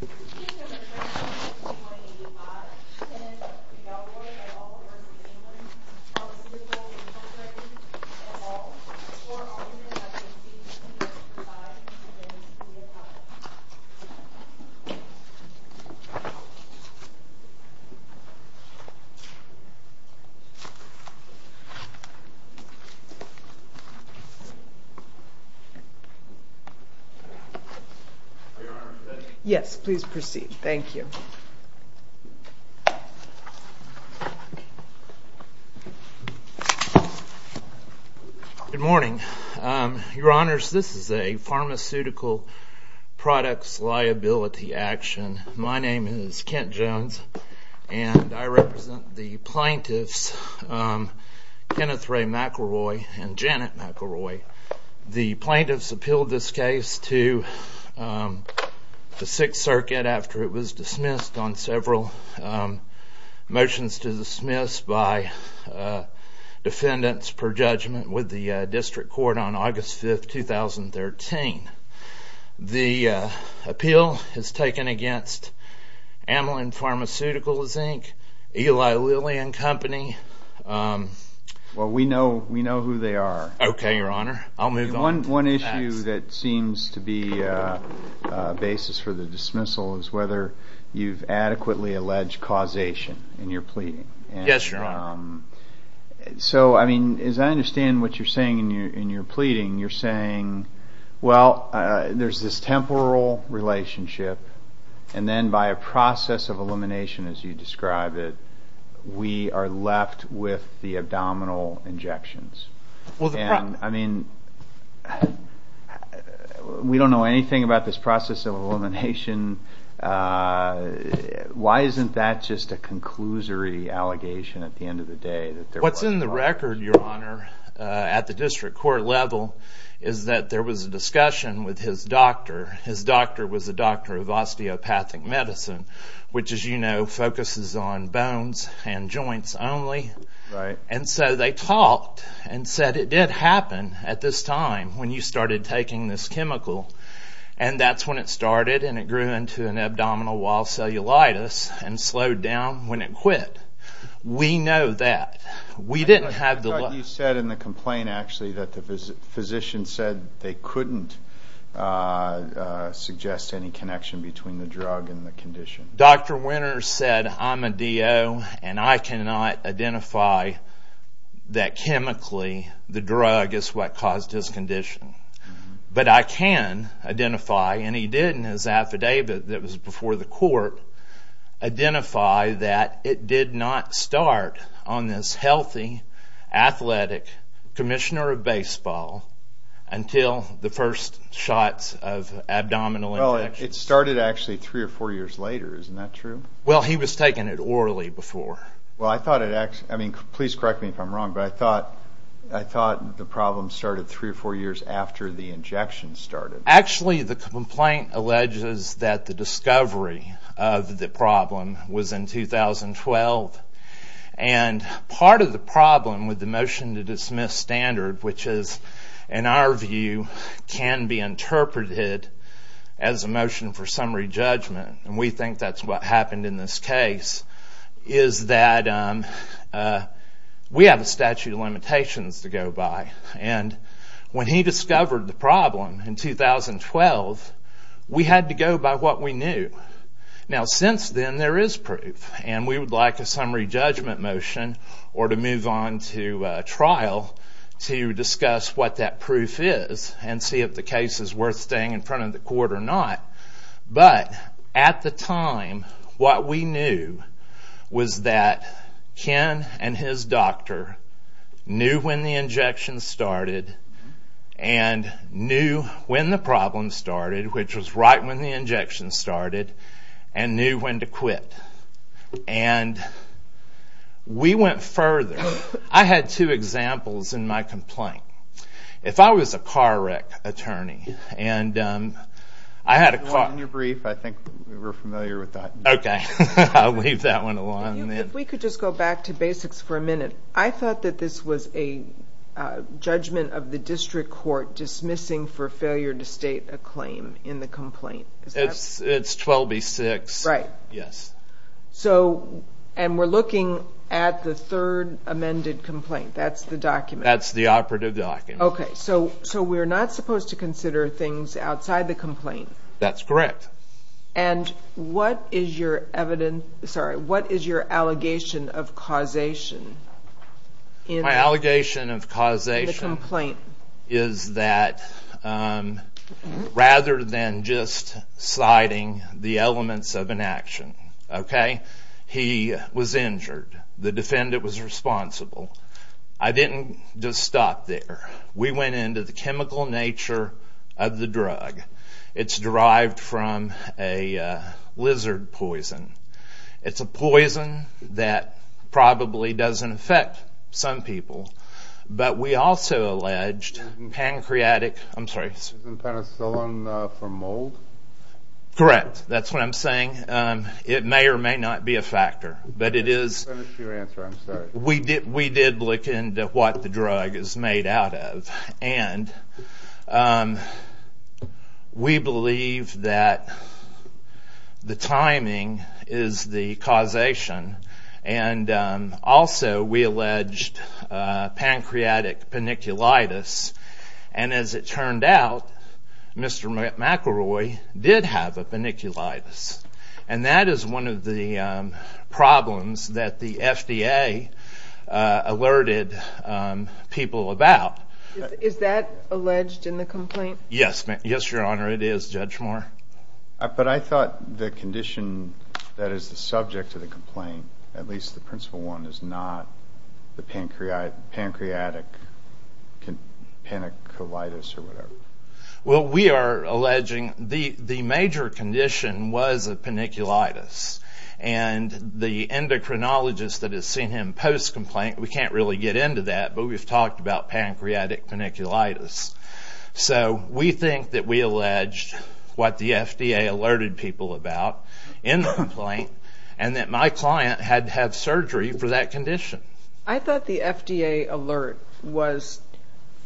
This is a picture of McElroy from 1985 and McElroy et al versus Amylin Pharmaceuticals and Pharmaceuticals et al. For all information, please see the link provided in the video description. Yes, please proceed. Thank you. Good morning. Your Honors, this is a pharmaceutical products liability action. My name is Kent Jones and I represent the plaintiffs Kenneth Ray McElroy and Janet McElroy. The plaintiffs appealed this case to the 6th Circuit after it was dismissed on several motions to dismiss by defendants per judgment with the district court on August 5, 2013. The appeal is taken against Amylin Pharmaceuticals, Inc., Eli Lilly and Company. Well, we know who they are. Okay, Your Honor. I'll move on. One issue that seems to be a basis for the dismissal is whether you've adequately alleged causation in your pleading. Yes, Your Honor. So, I mean, as I understand what you're saying in your pleading, you're saying, well, there's this temporal relationship and then by a process of elimination as you describe it, we are left with the abdominal injections. I mean, we don't know anything about this process of elimination. Why isn't that just a conclusory allegation at the end of the day? What's in the record, Your Honor, at the district court level is that there was a discussion with his doctor. His doctor was a doctor of osteopathic medicine, which as you know, focuses on bones and joints only. Right. And so they talked and said it did happen at this time when you started taking this chemical. And that's when it started and it grew into an abdominal wall cellulitis and slowed down when it quit. We know that. I thought you said in the complaint, actually, that the physician said they couldn't suggest any connection between the drug and the condition. Dr. Winters said, I'm a DO and I cannot identify that chemically the drug is what caused his condition. But I can identify, and he did in his affidavit that was before the court, identify that it did not start on this healthy, athletic commissioner of baseball until the first shots of abdominal injections. It started actually three or four years later, isn't that true? Well, he was taking it orally before. Well, I thought it actually, I mean, please correct me if I'm wrong, but I thought the problem started three or four years after the injections started. Actually, the complaint alleges that the discovery of the problem was in 2012. And part of the problem with the motion to dismiss standard, which is, in our view, can be interpreted as a motion for summary judgment, and we think that's what happened in this case, is that we have a statute of limitations to go by. And when he discovered the problem in 2012, we had to go by what we knew. Now, since then, there is proof, and we would like a summary judgment motion or to move on to trial to discuss what that proof is and see if the case is worth staying in front of the court or not. But at the time, what we knew was that Ken and his doctor knew when the injections started and knew when the problem started, which was right when the injections started, and knew when to quit. And we went further. I had two examples in my complaint. If I was a car wreck attorney, and I had a car... In your brief, I think we're familiar with that. Okay. I'll leave that one alone. If we could just go back to basics for a minute. I thought that this was a judgment of the district court dismissing for failure to state a claim in the complaint. It's 12B6. Right. Yes. And we're looking at the third amended complaint. That's the document. That's the operative document. Okay. So we're not supposed to consider things outside the complaint? That's correct. And what is your allegation of causation in the complaint? My allegation of causation is that rather than just citing the elements of an action, okay? He was injured. The defendant was responsible. I didn't just stop there. We went into the chemical nature of the drug. It's derived from a lizard poison. It's a poison that probably doesn't affect some people. But we also alleged pancreatic... I'm sorry. Isn't penicillin from mold? Correct. That's what I'm saying. It may or may not be a factor. But it is... That's your answer. I'm sorry. We did look into what the drug is made out of. And we believe that the timing is the causation. And also we alleged pancreatic penicillitis. And as it turned out, Mr. McElroy did have a penicillitis. And that is one of the problems that the FDA alerted people about. Is that alleged in the complaint? Yes, Your Honor. It is, Judge Moore. But I thought the condition that is the subject of the complaint, at least the principal one, is not the pancreatic penicillitis or whatever. Well, we are alleging the major condition was a penicillitis. And the endocrinologist that has seen him post-complaint, we can't really get into that, but we've talked about pancreatic penicillitis. So we think that we alleged what the FDA alerted people about in the complaint and that my client had to have surgery for that condition. I thought the FDA alert was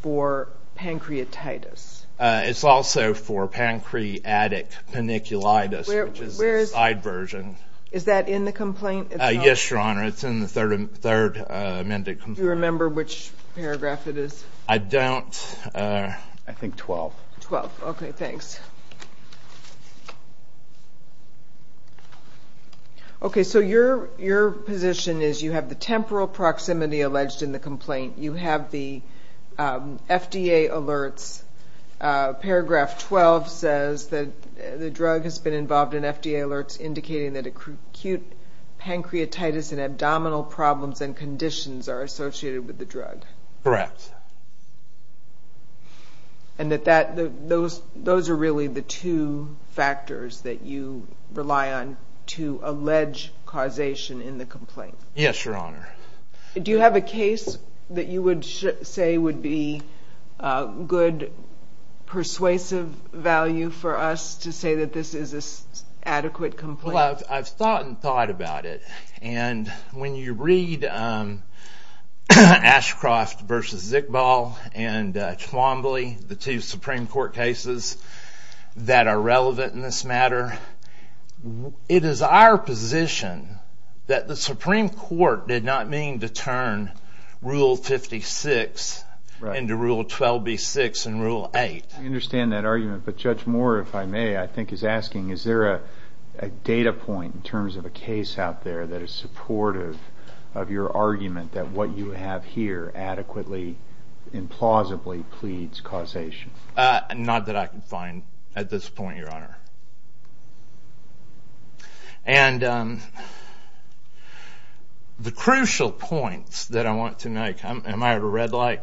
for pancreatitis. It's also for pancreatic penicillitis, which is the side version. Is that in the complaint? Yes, Your Honor. It's in the third amended complaint. Do you remember which paragraph it is? I don't. I think 12. 12. Okay, thanks. Okay, so your position is you have the temporal proximity alleged in the complaint. You have the FDA alerts. Paragraph 12 says that the drug has been involved in FDA alerts indicating that acute pancreatitis and abdominal problems and conditions are associated with the drug. Correct. And that those are really the two factors that you rely on to allege causation in the complaint. Yes, Your Honor. Do you have a case that you would say would be good persuasive value for us to say that this is an adequate complaint? Well, I've thought and thought about it. And when you read Ashcroft v. Zickball and Twombly, the two Supreme Court cases that are relevant in this matter, it is our position that the Supreme Court did not mean to turn Rule 56 into Rule 12B6 and Rule 8. I understand that argument. But Judge Moore, if I may, I think is asking, is there a data point in terms of a case out there that is supportive of your argument that what you have here adequately and plausibly pleads causation? Not that I can find at this point, Your Honor. And the crucial points that I want to make, am I at a red light?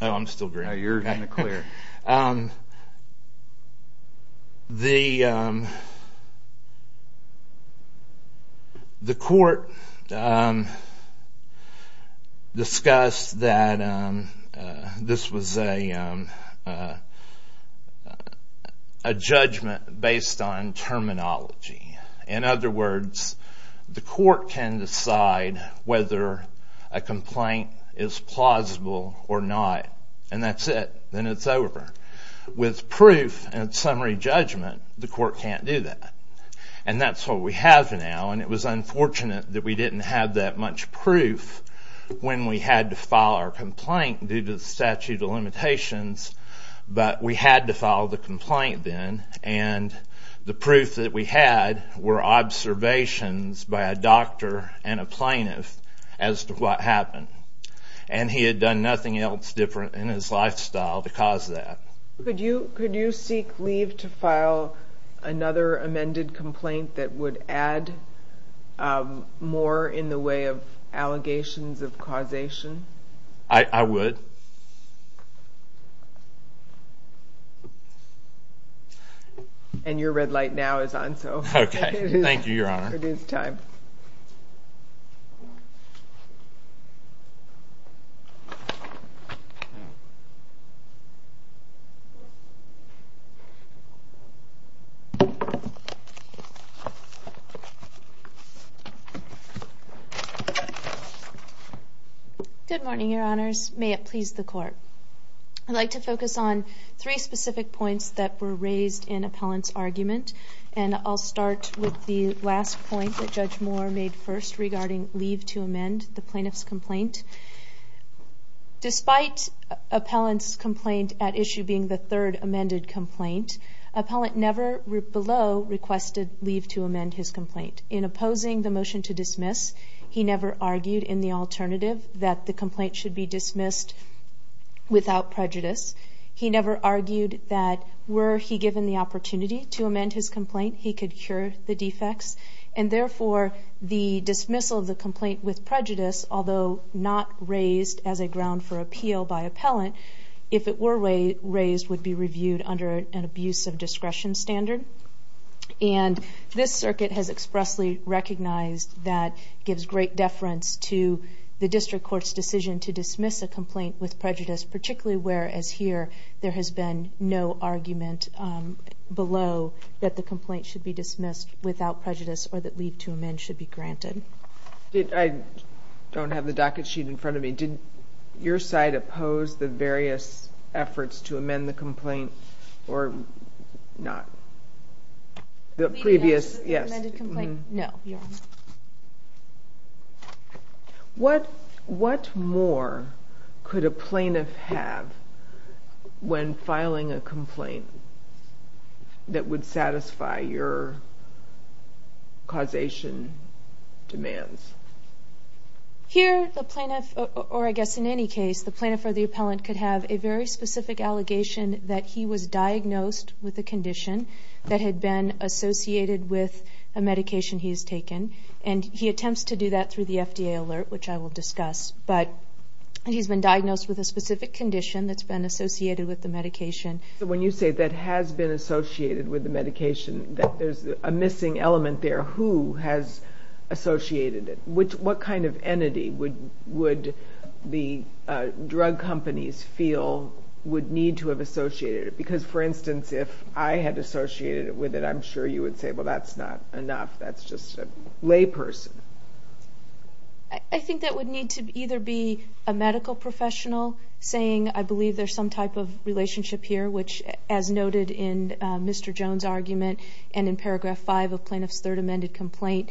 Oh, I'm still green. No, you're kind of clear. Okay. The court discussed that this was a judgment based on terminology. In other words, the court can decide whether a complaint is plausible or not, and that's it. Then it's over. With proof and summary judgment, the court can't do that. And that's what we have now. And it was unfortunate that we didn't have that much proof when we had to file our complaint due to the statute of limitations. But we had to file the complaint then, and the proof that we had were observations by a doctor and a plaintiff as to what happened. And he had done nothing else different in his lifestyle to cause that. Could you seek leave to file another amended complaint that would add more in the way of allegations of causation? I would. And your red light now is on, so it is time. Thank you. Good morning, Your Honors. May it please the Court. I'd like to focus on three specific points that were raised in appellant's argument, and I'll start with the last point that Judge Moore made first regarding leave to amend the plaintiff's complaint. Despite appellant's complaint at issue being the third amended complaint, appellant never below requested leave to amend his complaint. In opposing the motion to dismiss, he never argued in the alternative that the complaint should be dismissed without prejudice. He never argued that were he given the opportunity to amend his complaint, he could cure the defects. And therefore, the dismissal of the complaint with prejudice, although not raised as a ground for appeal by appellant, if it were raised, would be reviewed under an abuse of discretion standard. And this circuit has expressly recognized that it gives great deference to the district court's decision to dismiss a complaint with prejudice, particularly whereas here there has been no argument below that the complaint should be dismissed without prejudice or that leave to amend should be granted. I don't have the docket sheet in front of me. Did your side oppose the various efforts to amend the complaint or not? Leave to amend the complaint? No, Your Honor. What more could a plaintiff have when filing a complaint that would satisfy your causation demands? Here the plaintiff, or I guess in any case, the plaintiff or the appellant could have a very specific allegation that he was diagnosed with a condition that had been associated with a medication he has taken. And he attempts to do that through the FDA alert, which I will discuss. But he's been diagnosed with a specific condition that's been associated with the medication. So when you say that has been associated with the medication, there's a missing element there. Who has associated it? What kind of entity would the drug companies feel would need to have associated it? Because, for instance, if I had associated it with it, I'm sure you would say, well, that's not enough. That's just a lay person. I think that would need to either be a medical professional saying, I believe there's some type of relationship here, which, as noted in Mr. Jones' argument and in Paragraph 5 of Plaintiff's Third Amended Complaint,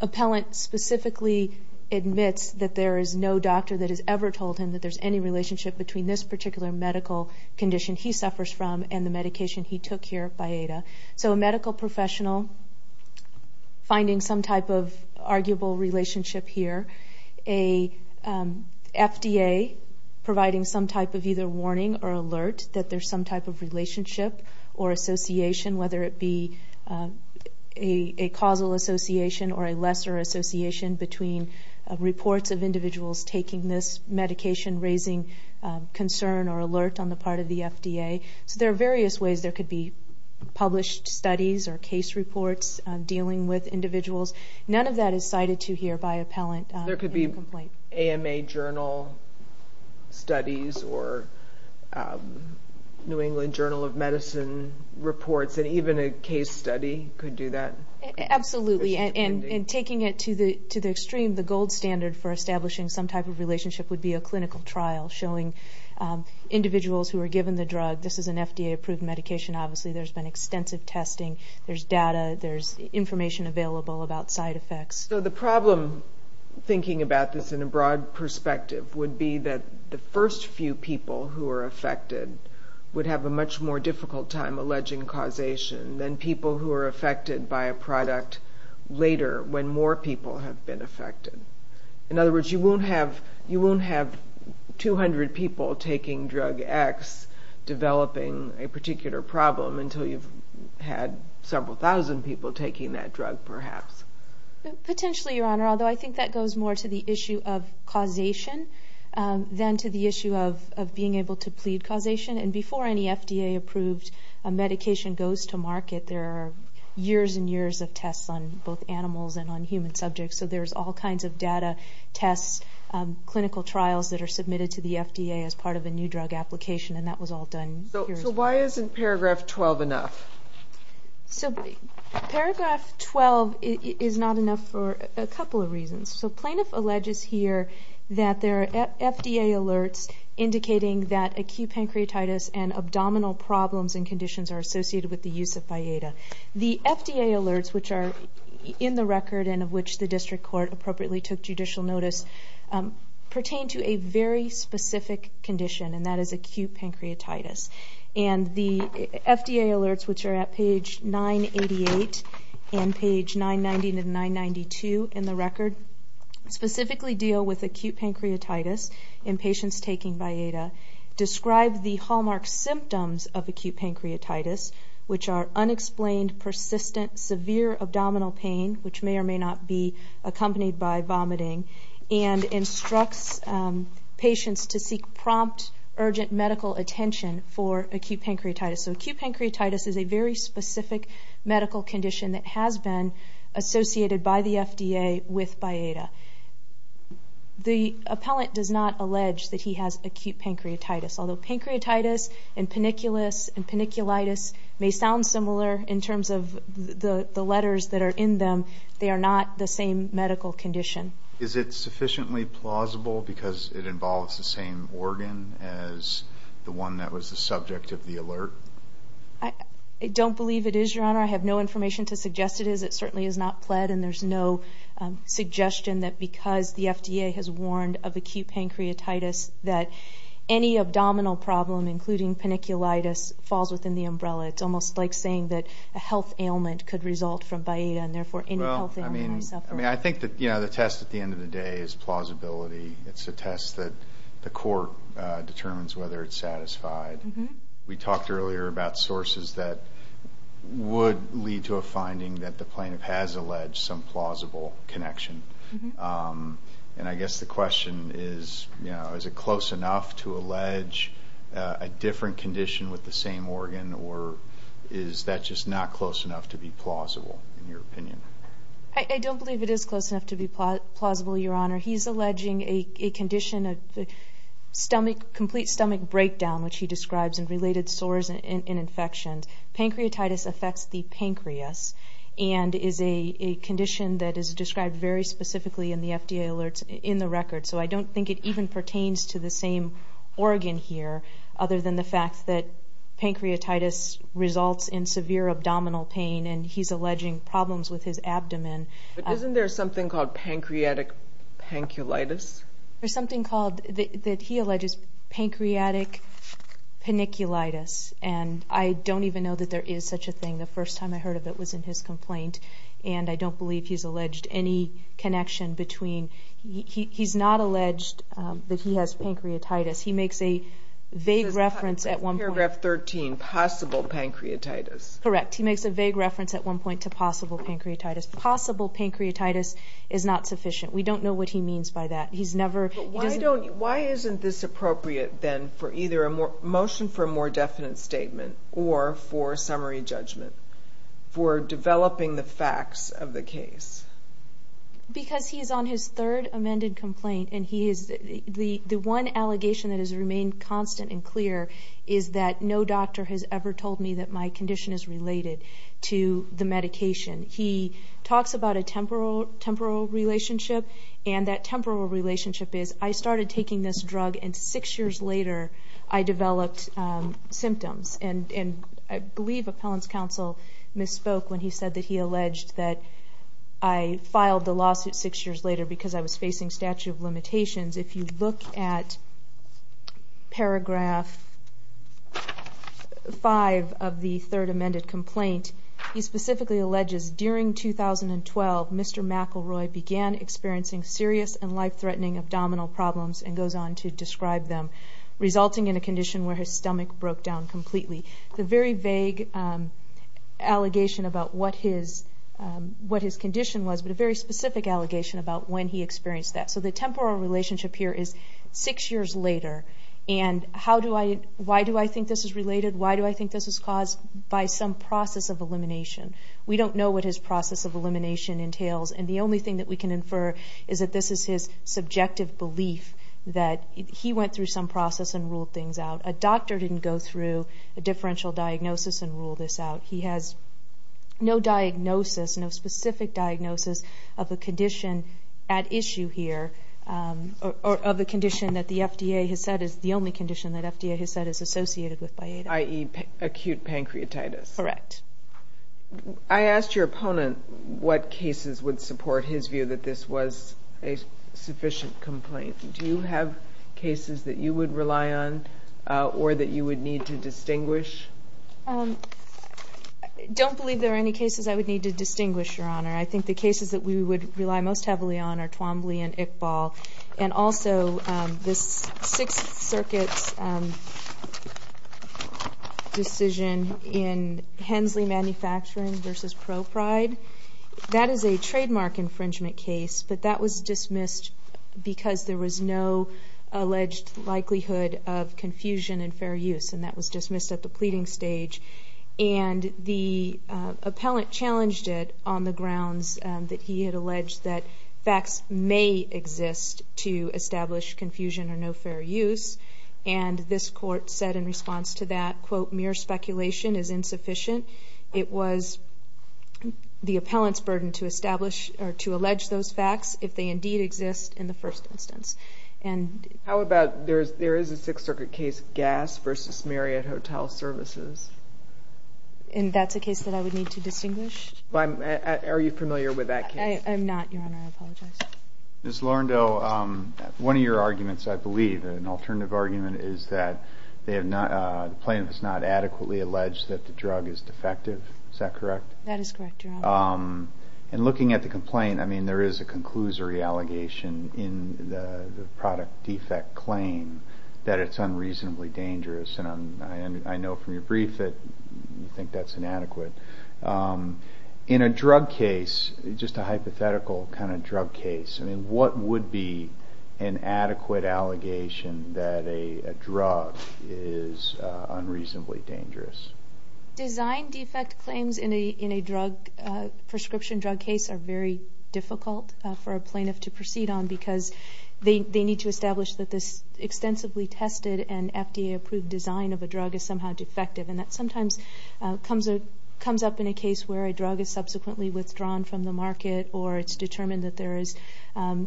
appellant specifically admits that there is no doctor that has ever told him that there's any relationship between this particular medical condition he suffers from and the medication he took here by Ada. So a medical professional finding some type of arguable relationship here. A FDA providing some type of either warning or alert that there's some type of relationship or association, whether it be a causal association or a lesser association between reports of individuals taking this medication, raising concern or alert on the part of the FDA. So there are various ways there could be published studies or case reports dealing with individuals. None of that is cited to here by appellant in the complaint. AMA journal studies or New England Journal of Medicine reports, and even a case study could do that. Absolutely. And taking it to the extreme, the gold standard for establishing some type of relationship would be a clinical trial showing individuals who were given the drug. This is an FDA-approved medication. Obviously there's been extensive testing. There's data. There's information available about side effects. So the problem, thinking about this in a broad perspective, would be that the first few people who are affected would have a much more difficult time alleging causation than people who are affected by a product later when more people have been affected. In other words, you won't have 200 people taking drug X developing a particular problem Potentially, Your Honor, although I think that goes more to the issue of causation than to the issue of being able to plead causation. And before any FDA-approved medication goes to market, there are years and years of tests on both animals and on human subjects. So there's all kinds of data, tests, clinical trials that are submitted to the FDA as part of a new drug application, and that was all done here. So why isn't paragraph 12 enough? So paragraph 12 is not enough for a couple of reasons. So Plaintiff alleges here that there are FDA alerts indicating that acute pancreatitis and abdominal problems and conditions are associated with the use of FIEDA. The FDA alerts, which are in the record and of which the district court appropriately took judicial notice, pertain to a very specific condition, and that is acute pancreatitis. And the FDA alerts, which are at page 988 and page 990 to 992 in the record, specifically deal with acute pancreatitis in patients taking FIEDA, describe the hallmark symptoms of acute pancreatitis, which are unexplained, persistent, severe abdominal pain, which may or may not be accompanied by vomiting, and instructs patients to seek prompt, urgent medical attention for acute pancreatitis. So acute pancreatitis is a very specific medical condition that has been associated by the FDA with FIEDA. The appellant does not allege that he has acute pancreatitis, although pancreatitis and paniculitis may sound similar in terms of the letters that are in them. They are not the same medical condition. Is it sufficiently plausible because it involves the same organ as the one that was the subject of the alert? I don't believe it is, Your Honor. I have no information to suggest it is. It certainly is not pled, and there's no suggestion that because the FDA has warned of acute pancreatitis that any abdominal problem, including paniculitis, falls within the umbrella. It's almost like saying that a health ailment could result from FIEDA, and therefore any health ailment may suffer. I think that the test at the end of the day is plausibility. It's a test that the court determines whether it's satisfied. We talked earlier about sources that would lead to a finding that the plaintiff has alleged some plausible connection. And I guess the question is, is it close enough to allege a different condition with the same organ, or is that just not close enough to be plausible, in your opinion? I don't believe it is close enough to be plausible, Your Honor. He's alleging a condition, a complete stomach breakdown, which he describes, and related sores and infections. Pancreatitis affects the pancreas and is a condition that is described very specifically in the FDA alerts in the record. So I don't think it even pertains to the same organ here, other than the fact that pancreatitis results in severe abdominal pain, and he's alleging problems with his abdomen. Isn't there something called pancreatic panculitis? There's something that he alleges is pancreatic paniculitis, and I don't even know that there is such a thing. The first time I heard of it was in his complaint, and I don't believe he's alleged any connection between. He's not alleged that he has pancreatitis. He makes a vague reference at one point. This is paragraph 13, possible pancreatitis. Correct. He makes a vague reference at one point to possible pancreatitis. Possible pancreatitis is not sufficient. We don't know what he means by that. Why isn't this appropriate then for either a motion for a more definite statement or for summary judgment for developing the facts of the case? Because he is on his third amended complaint, and the one allegation that has remained constant and clear is that no doctor has ever told me that my condition is related to the medication. He talks about a temporal relationship, and that temporal relationship is I started taking this drug and six years later I developed symptoms. And I believe appellant's counsel misspoke when he said that he alleged that I filed the lawsuit six years later because I was facing statute of limitations. If you look at paragraph 5 of the third amended complaint, he specifically alleges during 2012 Mr. McElroy began experiencing serious and life-threatening abdominal problems and goes on to describe them, resulting in a condition where his stomach broke down completely. It's a very vague allegation about what his condition was, but a very specific allegation about when he experienced that. So the temporal relationship here is six years later, and why do I think this is related? Why do I think this was caused? By some process of elimination. We don't know what his process of elimination entails, and the only thing that we can infer is that this is his subjective belief that he went through some process and ruled things out. A doctor didn't go through a differential diagnosis and rule this out. He has no diagnosis, no specific diagnosis of a condition at issue here, or of a condition that the FDA has said is the only condition that FDA has said is associated with biatis. I.e., acute pancreatitis. Correct. I asked your opponent what cases would support his view that this was a sufficient complaint. Do you have cases that you would rely on or that you would need to distinguish? I don't believe there are any cases I would need to distinguish, Your Honor. I think the cases that we would rely most heavily on are Twombly and Iqbal, and also this Sixth Circuit's decision in Hensley Manufacturing v. ProPride. That is a trademark infringement case, but that was dismissed because there was no alleged likelihood of confusion and fair use, and that was dismissed at the pleading stage. And the appellant challenged it on the grounds that he had alleged that facts may exist to establish confusion or no fair use, and this court said in response to that, quote, mere speculation is insufficient. It was the appellant's burden to establish or to allege those facts if they indeed exist in the first instance. How about there is a Sixth Circuit case, Gass v. Marriott Hotel Services? And that's a case that I would need to distinguish? Are you familiar with that case? I'm not, Your Honor. I apologize. Ms. Lorindo, one of your arguments, I believe, an alternative argument, is that the plaintiff has not adequately alleged that the drug is defective. Is that correct? That is correct, Your Honor. And looking at the complaint, I mean, there is a conclusory allegation in the product defect claim that it's unreasonably dangerous, and I know from your brief that you think that's inadequate. In a drug case, just a hypothetical kind of drug case, I mean, what would be an adequate allegation that a drug is unreasonably dangerous? Design defect claims in a prescription drug case are very difficult for a plaintiff to proceed on because they need to establish that this extensively tested and FDA-approved design of a drug is somehow defective, and that sometimes comes up in a case where a drug is subsequently withdrawn from the market or it's determined that there is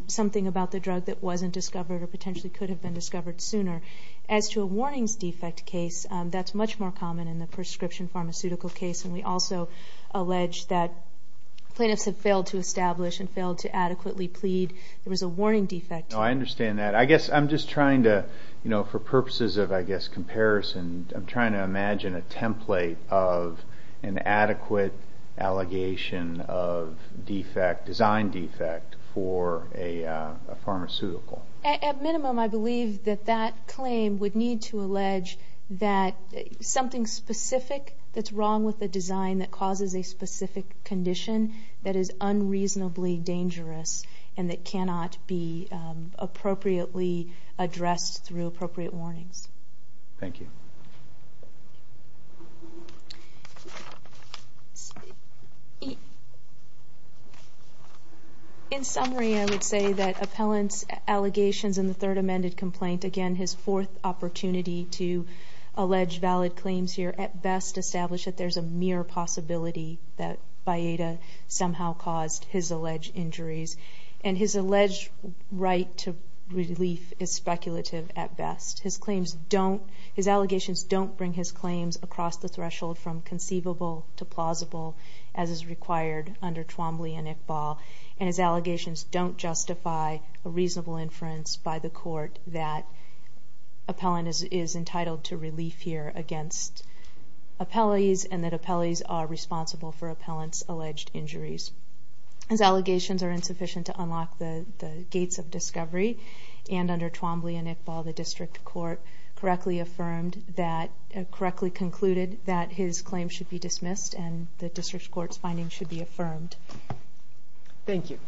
something about the drug that wasn't discovered or potentially could have been discovered sooner. As to a warnings defect case, that's much more common in the prescription pharmaceutical case, and we also allege that plaintiffs have failed to establish and failed to adequately plead there was a warning defect. No, I understand that. I guess I'm just trying to, you know, for purposes of, I guess, comparison, I'm trying to imagine a template of an adequate allegation of design defect for a pharmaceutical. At minimum, I believe that that claim would need to allege that something specific that's wrong with the design that causes a specific condition that is unreasonably dangerous and that cannot be appropriately addressed through appropriate warnings. Thank you. In summary, I would say that appellant's allegations in the third amended complaint, again, his fourth opportunity to allege valid claims here, at best, establish that there's a mere possibility that Bayada somehow caused his alleged injuries, and his alleged right to relief is speculative at best. His claims don't, his allegations don't bring his claims across the threshold from conceivable to plausible as is required under Twombly and Iqbal, and his allegations don't justify a reasonable inference by the court that appellant is entitled to relief here against appellees and that appellees are responsible for appellant's alleged injuries. His allegations are insufficient to unlock the gates of discovery, and under Twombly and Iqbal, the district court correctly affirmed that, correctly concluded, that his claims should be dismissed and the district court's findings should be affirmed. Thank you.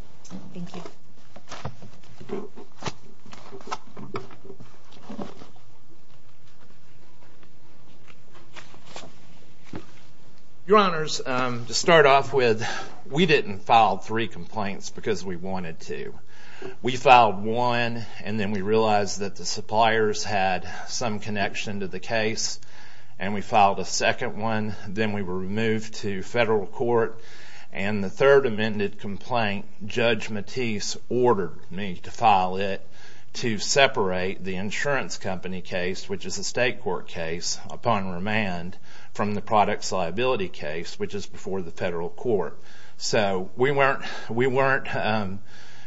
Your Honors, to start off with, we didn't file three complaints because we wanted to. We filed one, and then we realized that the suppliers had some connection to the case, and we filed a second one, then we were moved to federal court, and the third amended complaint, Judge Matisse ordered me to file it to separate the insurance company case, which is a state court case, upon remand, from the products liability case, which is before the federal court. So we weren't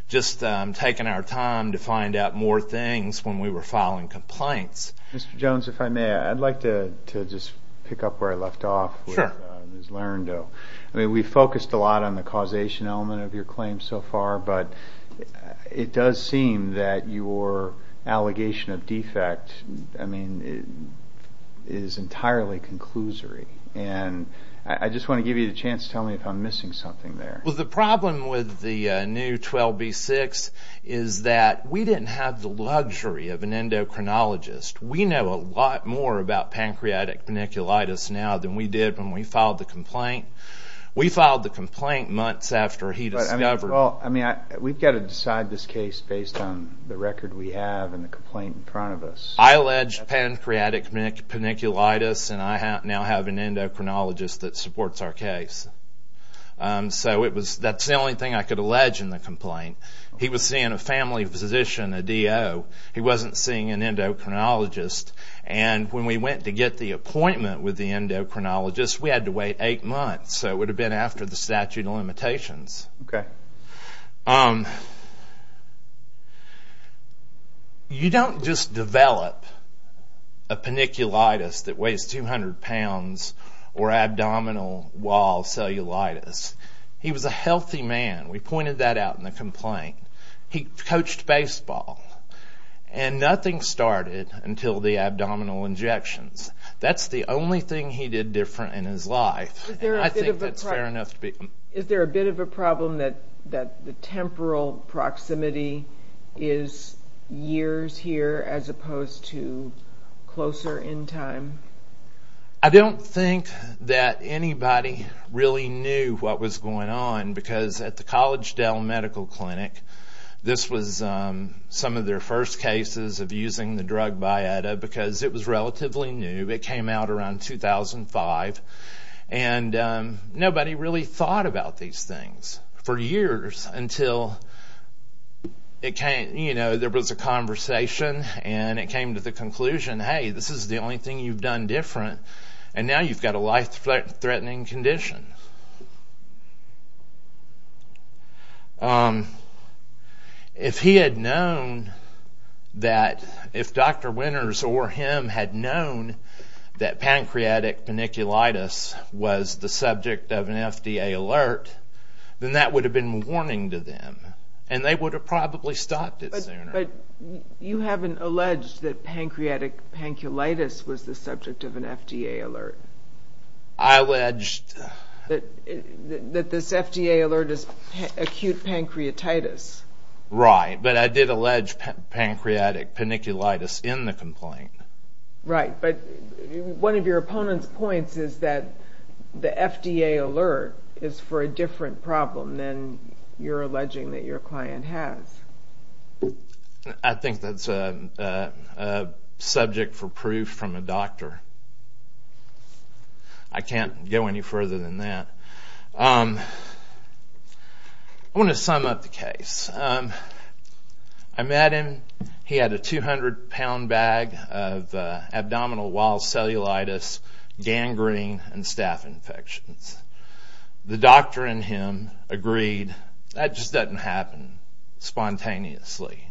just taking our time to find out more things when we were filing complaints. Mr. Jones, if I may, I'd like to just pick up where I left off with Ms. Larendoe. I mean, we focused a lot on the causation element of your claims so far, but it does seem that your allegation of defect, I mean, is entirely conclusory, and I just want to give you the chance to tell me if I'm missing something there. Well, the problem with the new 12B6 is that we didn't have the luxury of an endocrinologist. We know a lot more about pancreatic paniculitis now than we did when we filed the complaint. We filed the complaint months after he discovered it. Well, I mean, we've got to decide this case based on the record we have and the complaint in front of us. I allege pancreatic paniculitis, and I now have an endocrinologist that supports our case. So that's the only thing I could allege in the complaint. He was seeing a family physician, a DO. He wasn't seeing an endocrinologist, and when we went to get the appointment with the endocrinologist, we had to wait eight months. So it would have been after the statute of limitations. Okay. You don't just develop a paniculitis that weighs 200 pounds or abdominal wall cellulitis. He was a healthy man. We pointed that out in the complaint. He coached baseball, and nothing started until the abdominal injections. That's the only thing he did different in his life, and I think that's fair enough to be. Is there a bit of a problem that the temporal proximity is years here as opposed to closer in time? I don't think that anybody really knew what was going on because at the College Dell Medical Clinic, this was some of their first cases of using the drug Biotta because it was relatively new. It came out around 2005, and nobody really thought about these things for years until there was a conversation, and it came to the conclusion, hey, this is the only thing you've done different, and now you've got a life-threatening condition. If he had known that if Dr. Winters or him had known that pancreatic paniculitis was the subject of an FDA alert, then that would have been a warning to them, and they would have probably stopped it sooner. But you haven't alleged that pancreatic paniculitis was the subject of an FDA alert. I alleged that this FDA alert is acute pancreatitis. Right, but I did allege pancreatic paniculitis in the complaint. Right, but one of your opponent's points is that the FDA alert is for a different problem than you're alleging that your client has. I think that's a subject for proof from a doctor. I can't go any further than that. I want to sum up the case. I met him. He had a 200-pound bag of abdominal wall cellulitis, gangrene, and staph infections. The doctor and him agreed, that just doesn't happen spontaneously.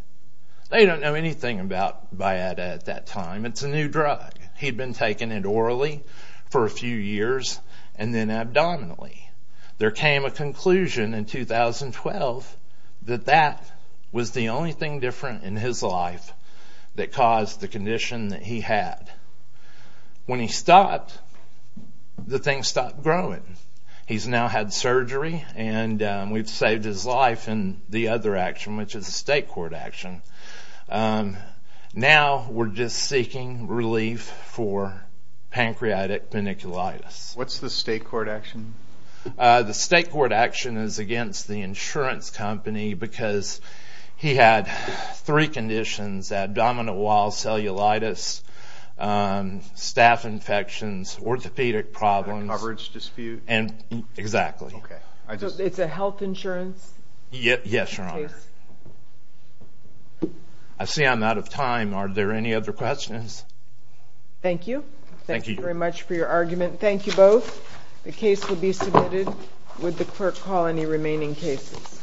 They don't know anything about Bayada at that time. It's a new drug. He'd been taking it orally for a few years and then abdominally. There came a conclusion in 2012 that that was the only thing different in his life that caused the condition that he had. When he stopped, the thing stopped growing. He's now had surgery and we've saved his life in the other action, which is a state court action. Now we're just seeking relief for pancreatic paniculitis. What's the state court action? The state court action is against the insurance company because he had three conditions, abdominal wall cellulitis, staph infections, orthopedic problems. A coverage dispute? Exactly. It's a health insurance case? Yes, Your Honor. I see I'm out of time. Are there any other questions? Thank you. Thank you very much for your argument. Thank you both. The case will be submitted. Would the clerk call any remaining cases? Thank you.